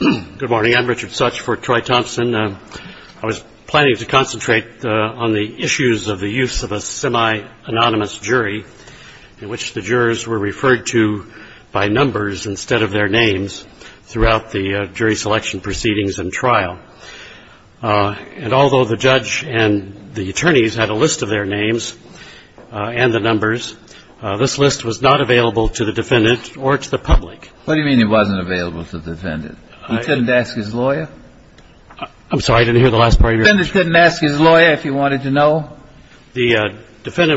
Good morning. I'm Richard Sutch for Troy Thompson. I was planning to concentrate on the issues of the use of a semi-anonymous jury in which the jurors were referred to by numbers instead of their names throughout the jury selection proceedings and trial. And although the judge and the attorneys had a list of their names and the numbers, this list was not available to the defendants. The defendant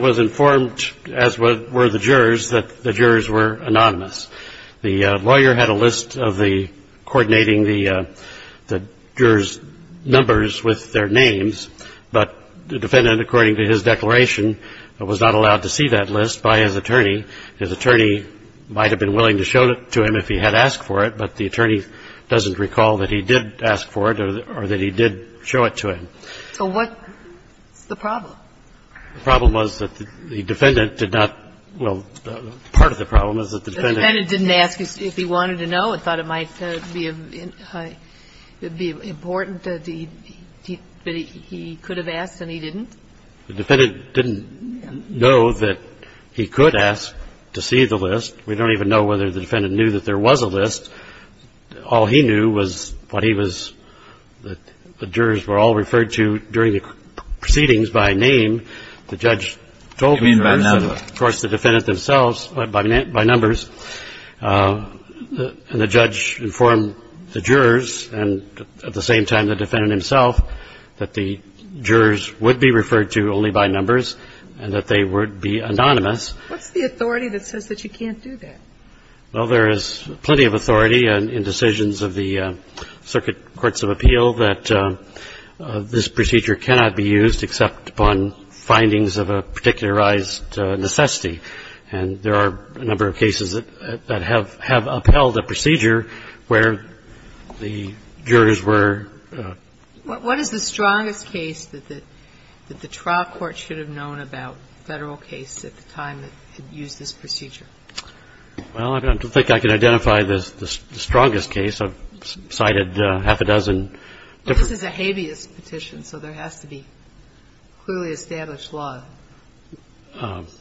was informed, as were the jurors, that the jurors were anonymous. The lawyer had a list of coordinating the jurors' numbers with their names, but the defendant, according to his declaration, was not allowed to see that list by his attorney. His attorney might have been willing to show it to him if he had asked for it, but the attorney doesn't recall that he did ask for it or that he did show it to him. So what's the problem? The problem was that the defendant did not – well, part of the problem is that the defendant... The defendant didn't ask if he wanted to know and thought it might be important that he could have asked and he didn't? The defendant didn't know that he could ask to see the list. We don't even know whether the defendant knew that there was a list. All he knew was what he was – the jurors were all referred to during the proceedings by name. The judge told me first. You mean by numbers. Of course, the defendant themselves, by numbers. And the judge informed the jurors and at the same time the defendant himself that the jurors would be referred to only by numbers and that they would be anonymous. What's the authority that says that you can't do that? Well, there is plenty of authority in decisions of the circuit courts of appeal that this procedure cannot be used except upon findings of a particularized necessity. And there are a number of cases that have upheld a procedure where the jurors were... What is the strongest case that the trial court should have known about federal case at the time that it used this procedure? Well, I don't think I can identify the strongest case. I've cited half a dozen different... This is a habeas petition, so there has to be clearly established law.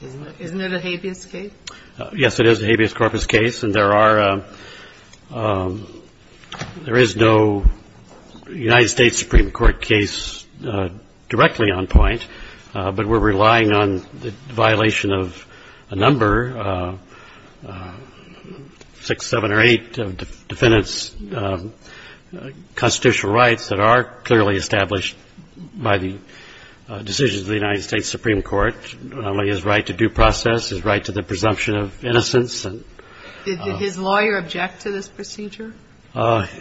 Isn't it a habeas case? Yes, it is a habeas corpus case. And there are – there is no United States Supreme Court case directly on point, but we're relying on the violation of a number, six, seven or eight defendants' constitutional rights that are clearly established by the decisions of the United States Supreme Court, not only his right to due process, his right to the presumption of innocence. Did his lawyer object to this procedure?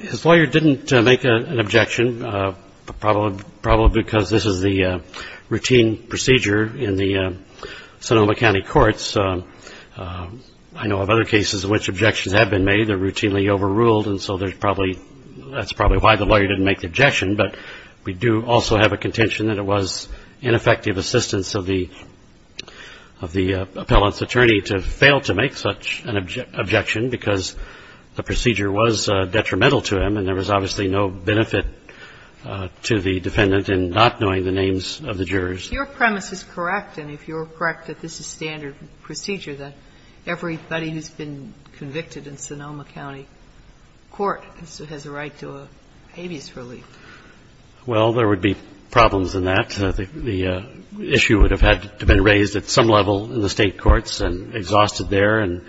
His lawyer didn't make an objection, probably because this is the routine procedure in the Sonoma County courts. I know of other cases in which objections have been made. They're routinely overruled, and so there's probably – that's probably why the lawyer didn't make the objection. But we do also have a contention that it was ineffective assistance of the appellant's attorney to fail to make such an objection because the procedure was detrimental to him, and there was obviously no benefit to the defendant in not knowing the names of the jurors. If your premise is correct, and if you're correct that this is standard procedure, that everybody who's been convicted in Sonoma County court has a right to a habeas relief. Well, there would be problems in that. The issue would have had to have been raised at some level in the State courts and exhausted there, and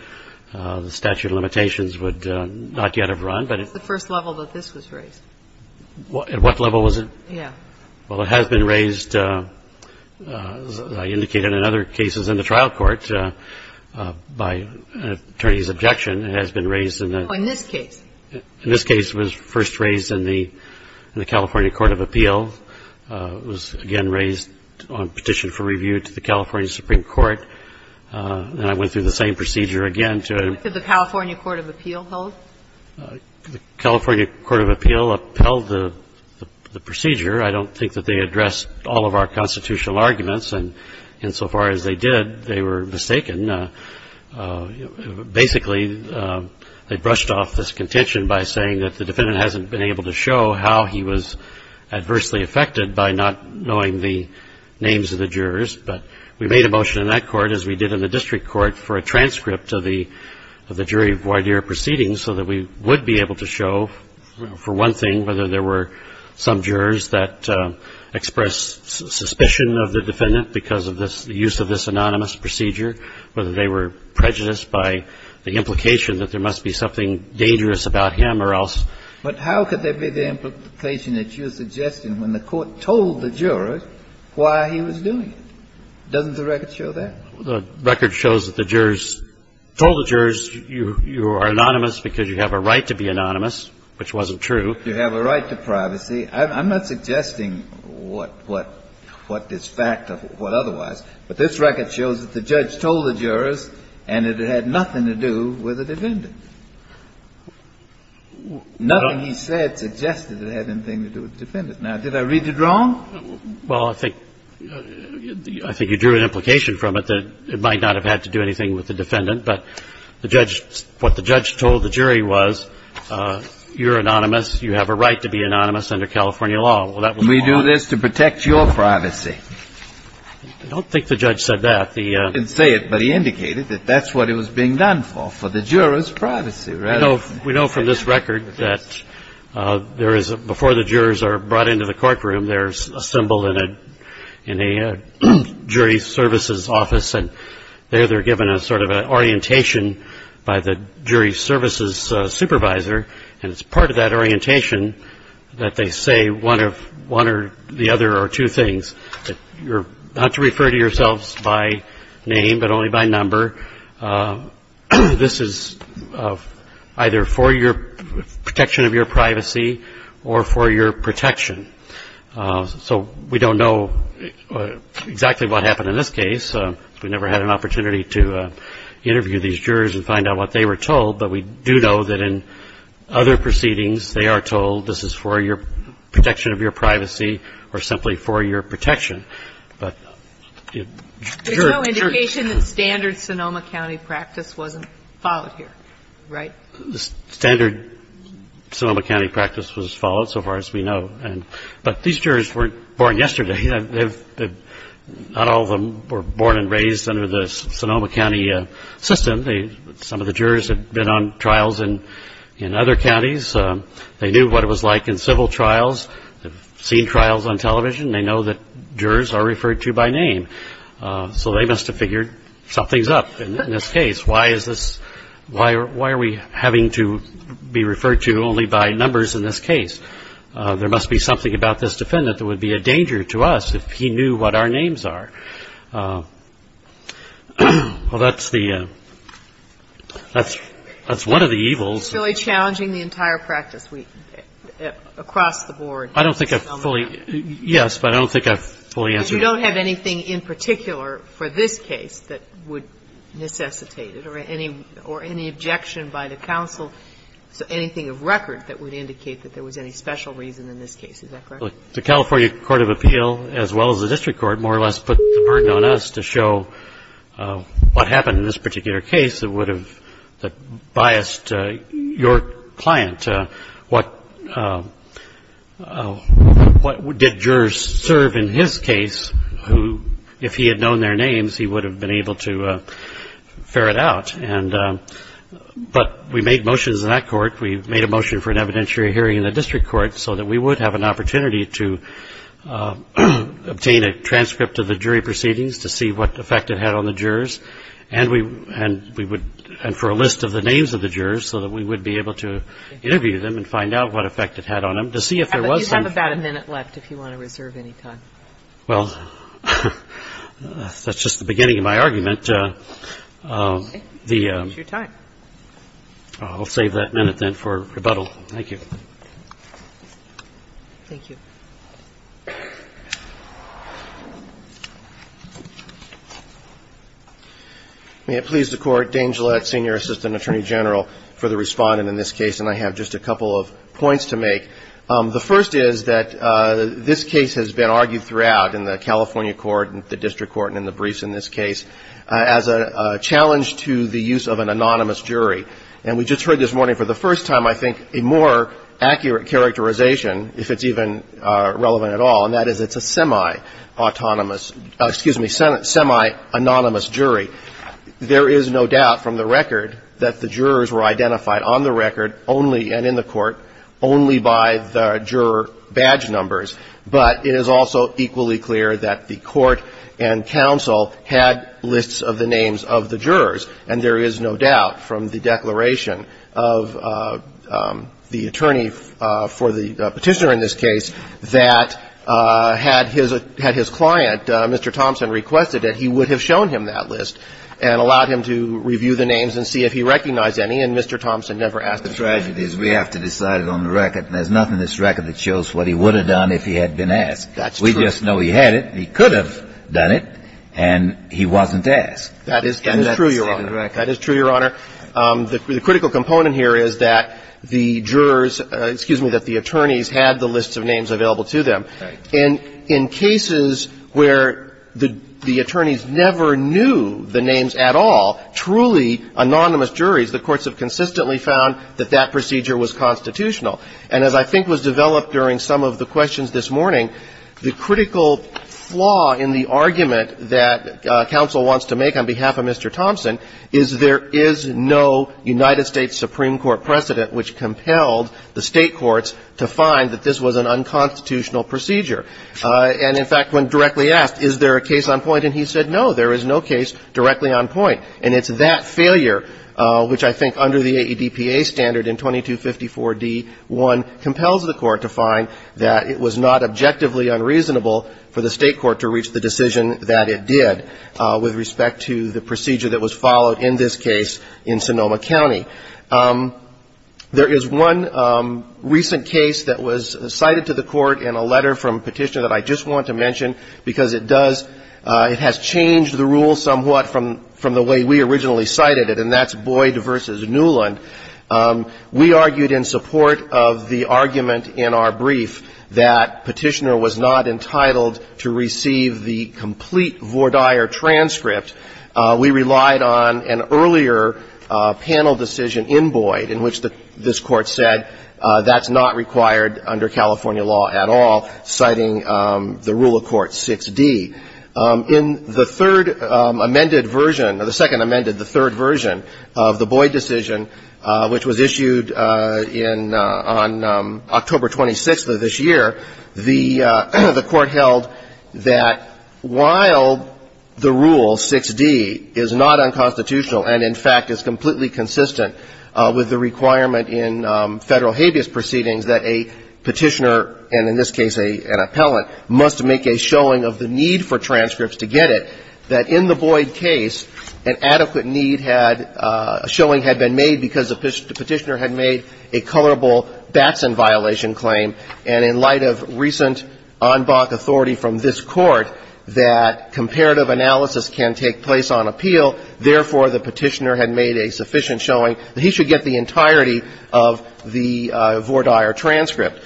the statute of limitations would not yet have run, but it's the first level that this was raised. At what level was it? Yeah. Well, it has been raised, as I indicated in other cases in the trial court, by an attorney's objection. It has been raised in the – Oh, in this case. In this case, it was first raised in the California court of appeal. It was, again, raised on petition for review to the California Supreme Court, and I went through the same procedure again to – Could the California court of appeal hold? The California court of appeal upheld the procedure. I don't think that they addressed all of our constitutional arguments, and insofar as they did, they were mistaken. Basically, they brushed off this contention by saying that the defendant hasn't been able to show how he was adversely affected by not knowing the names of the jurors, but we made a motion in that court, as we did in the district court, for a transcript of the jury voir dire proceedings so that we would be able to show, for one thing, whether there were some jurors that expressed suspicion of the defendant because of the use of this anonymous procedure, whether they were prejudiced by the implication that there must be something dangerous about him or else. But how could there be the implication that you're suggesting when the court told the jurors why he was doing it? Doesn't the record show that? The record shows that the jurors told the jurors, you are anonymous because you have a right to be anonymous, which wasn't true. You have a right to privacy. I'm not suggesting what is fact or what otherwise, but this record shows that the judge told the jurors and it had nothing to do with the defendant. Nothing he said suggested it had anything to do with the defendant. Now, did I read it wrong? Well, I think you drew an implication from it that it might not have had to do anything with the defendant, but the judge, what the judge told the jury was, you're anonymous, you have a right to be anonymous under California law. Well, that was wrong. We do this to protect your privacy. I don't think the judge said that. He didn't say it, but he indicated that that's what it was being done for, for the jurors' privacy. We know from this record that there is, before the jurors are brought into the courtroom, there's a symbol in a jury services office, and there they're given a sort of an orientation by the jury services supervisor, and it's part of that orientation that they say one or the other or two things, that you're not to refer to yourselves by name but only by number. This is either for your protection of your privacy or for your protection. So we don't know exactly what happened in this case. We never had an opportunity to interview these jurors and find out what they were told, but we do know that in other proceedings they are told this is for your protection of your privacy or simply for your protection. There's no indication that standard Sonoma County practice wasn't followed here, right? The standard Sonoma County practice was followed so far as we know. But these jurors weren't born yesterday. Not all of them were born and raised under the Sonoma County system. Some of the jurors had been on trials in other counties. They knew what it was like in civil trials. They've seen trials on television. They know that jurors are referred to by name. So they must have figured something's up in this case. Why are we having to be referred to only by numbers in this case? There must be something about this defendant that would be a danger to us if he knew what our names are. Well, that's the – that's one of the evils. It's really challenging the entire practice across the board. I don't think I've fully – yes, but I don't think I've fully answered that. But you don't have anything in particular for this case that would necessitate it or any objection by the counsel, anything of record that would indicate that there was any special reason in this case. Is that correct? The California Court of Appeal, as well as the district court, more or less put the burden on us to show what happened in this particular case that would have biased your client. What did jurors serve in his case who, if he had known their names, he would have been able to ferret out. I think it's important to note that we did have a motion for a jury hearing. We made a motion for an evidentiary hearing in the district court so that we would have an opportunity to obtain a transcript of the jury proceedings to see what effect it had on the jurors, and we would – and for a list of the names of the jurors so that we would be able to interview them and find out what effect it had on them, to see if there was some – Thank you for your time, and thank you, Mr. Chairman, for your rebuttal. Thank you. Thank you. May it please the Court, Dane Gillett, Senior Assistant Attorney General for the respondent in this case, and I have just a couple of points to make. The first is that this case has been argued throughout in the California court, the district court, and in the briefs in this case as a challenge to the use of an anonymous jury. And we just heard this morning for the first time, I think, a more accurate characterization, if it's even relevant at all, and that is it's a semi-autonomous, excuse me, semi-anonymous jury. There is no doubt from the record that the jurors were identified on the record only, and in the court, only by the juror badge numbers. But it is also equally clear that the court and counsel had lists of the names of the jurors, and there is no doubt from the declaration of the attorney for the Petitioner in this case that had his client, Mr. Thompson, requested it, he would have shown him that list and allowed him to review the names and see if he recognized any, and Mr. Thompson never asked the question. The tragedy is we have to decide it on the record. There's nothing in this record that shows what he would have done if he had been asked. That's true. We just know he had it, he could have done it, and he wasn't asked. That is true, Your Honor. And that's the second record. That is true, Your Honor. The critical component here is that the jurors, excuse me, that the attorneys had the lists of names available to them. Right. And in cases where the attorneys never knew the names at all, truly anonymous juries, the courts have consistently found that that procedure was constitutional. And as I think was developed during some of the questions this morning, the critical flaw in the argument that counsel wants to make on behalf of Mr. Thompson is there is no United States Supreme Court precedent which compelled the State courts to find that this was an unconstitutional procedure. And, in fact, when directly asked, is there a case on point, and he said, no, there is no case directly on point. And it's that failure which I think under the AEDPA standard in 2254d-1 compels the Court to find that it was not objectively unreasonable for the State court to reach the decision that it did with respect to the procedure that was followed in this case in Sonoma County. There is one recent case that was cited to the Court in a letter from a petitioner I just want to mention because it does, it has changed the rule somewhat from the way we originally cited it, and that's Boyd v. Newland. We argued in support of the argument in our brief that Petitioner was not entitled to receive the complete Vordaer transcript. We relied on an earlier panel decision in Boyd in which this Court said that's not required under California law at all, citing the rule of court 6d. In the third amended version, the second amended, the third version of the Boyd decision, which was issued in, on October 26th of this year, the Court held that while the rule 6d is not unconstitutional and, in fact, is completely consistent with the requirement in Federal habeas proceedings that a petitioner, and in this case an appellant, must make a showing of the need for transcripts to get it, that in the Boyd case, an adequate need had, a showing had been made because the petitioner had made a colorable Batson violation claim, and in light of recent en banc authority from this Court that comparative analysis can take place on appeal, therefore, the petitioner had made a sufficient showing that he should get the entirety of the Vordaer transcript.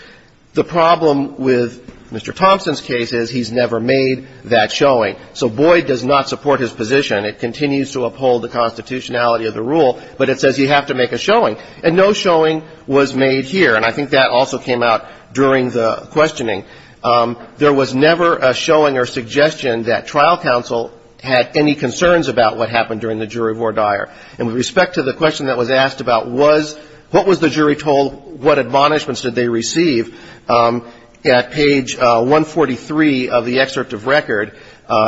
The problem with Mr. Thompson's case is he's never made that showing. So Boyd does not support his position. It continues to uphold the constitutionality of the rule, but it says you have to make a showing, and no showing was made here. And I think that also came out during the questioning. There was never a showing or suggestion that trial counsel had any concerns about what happened during the jury Vordaer. And with respect to the question that was asked about was, what was the jury told, what admonishments did they receive, at page 143 of the excerpt of record,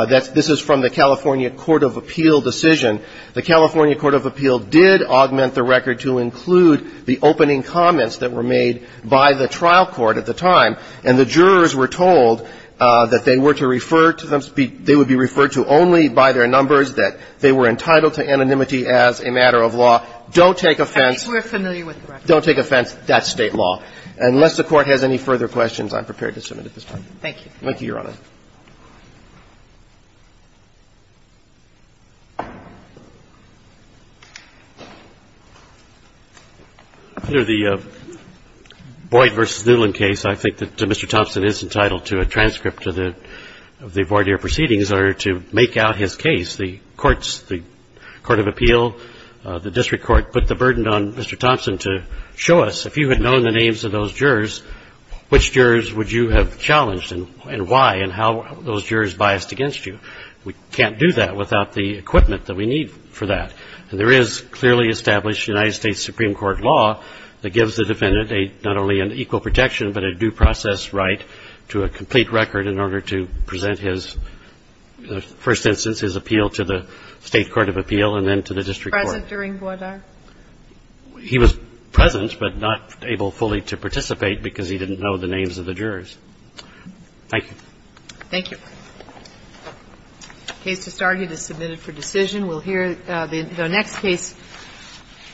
this is from the California Court of Appeal decision. The California Court of Appeal did augment the record to include the opening comments that were made by the trial court at the time, and the jurors were told that they were to refer to them, they would be referred to only by their numbers, that they were entitled to anonymity as a matter of law. Don't take offense. Don't take offense. That's State law. Unless the Court has any further questions, I'm prepared to submit at this time. Thank you, Your Honor. In the Boyd v. Newland case, I think that Mr. Thompson is entitled to a transcript of the Vordaer proceedings in order to make out his case. The courts, the Court of Appeal, the district court put the burden on Mr. Thompson to show us, if you had known the names of those jurors, which jurors would you have challenged, and why, and how. And how those jurors biased against you. We can't do that without the equipment that we need for that. And there is clearly established United States Supreme Court law that gives the defendant not only an equal protection, but a due process right to a complete record in order to present his first instance, his appeal to the State Court of Appeal and then to the district court. Present during Vordaer? He was present, but not able fully to participate because he didn't know the names of the jurors. Thank you. Thank you. The case has started. It's submitted for decision. We'll hear the next case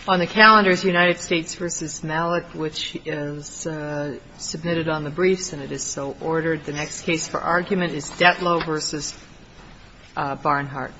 on the calendar is United States v. Malik, which is submitted on the briefs, and it is so ordered. The next case for argument is Detlow v. Barnhart.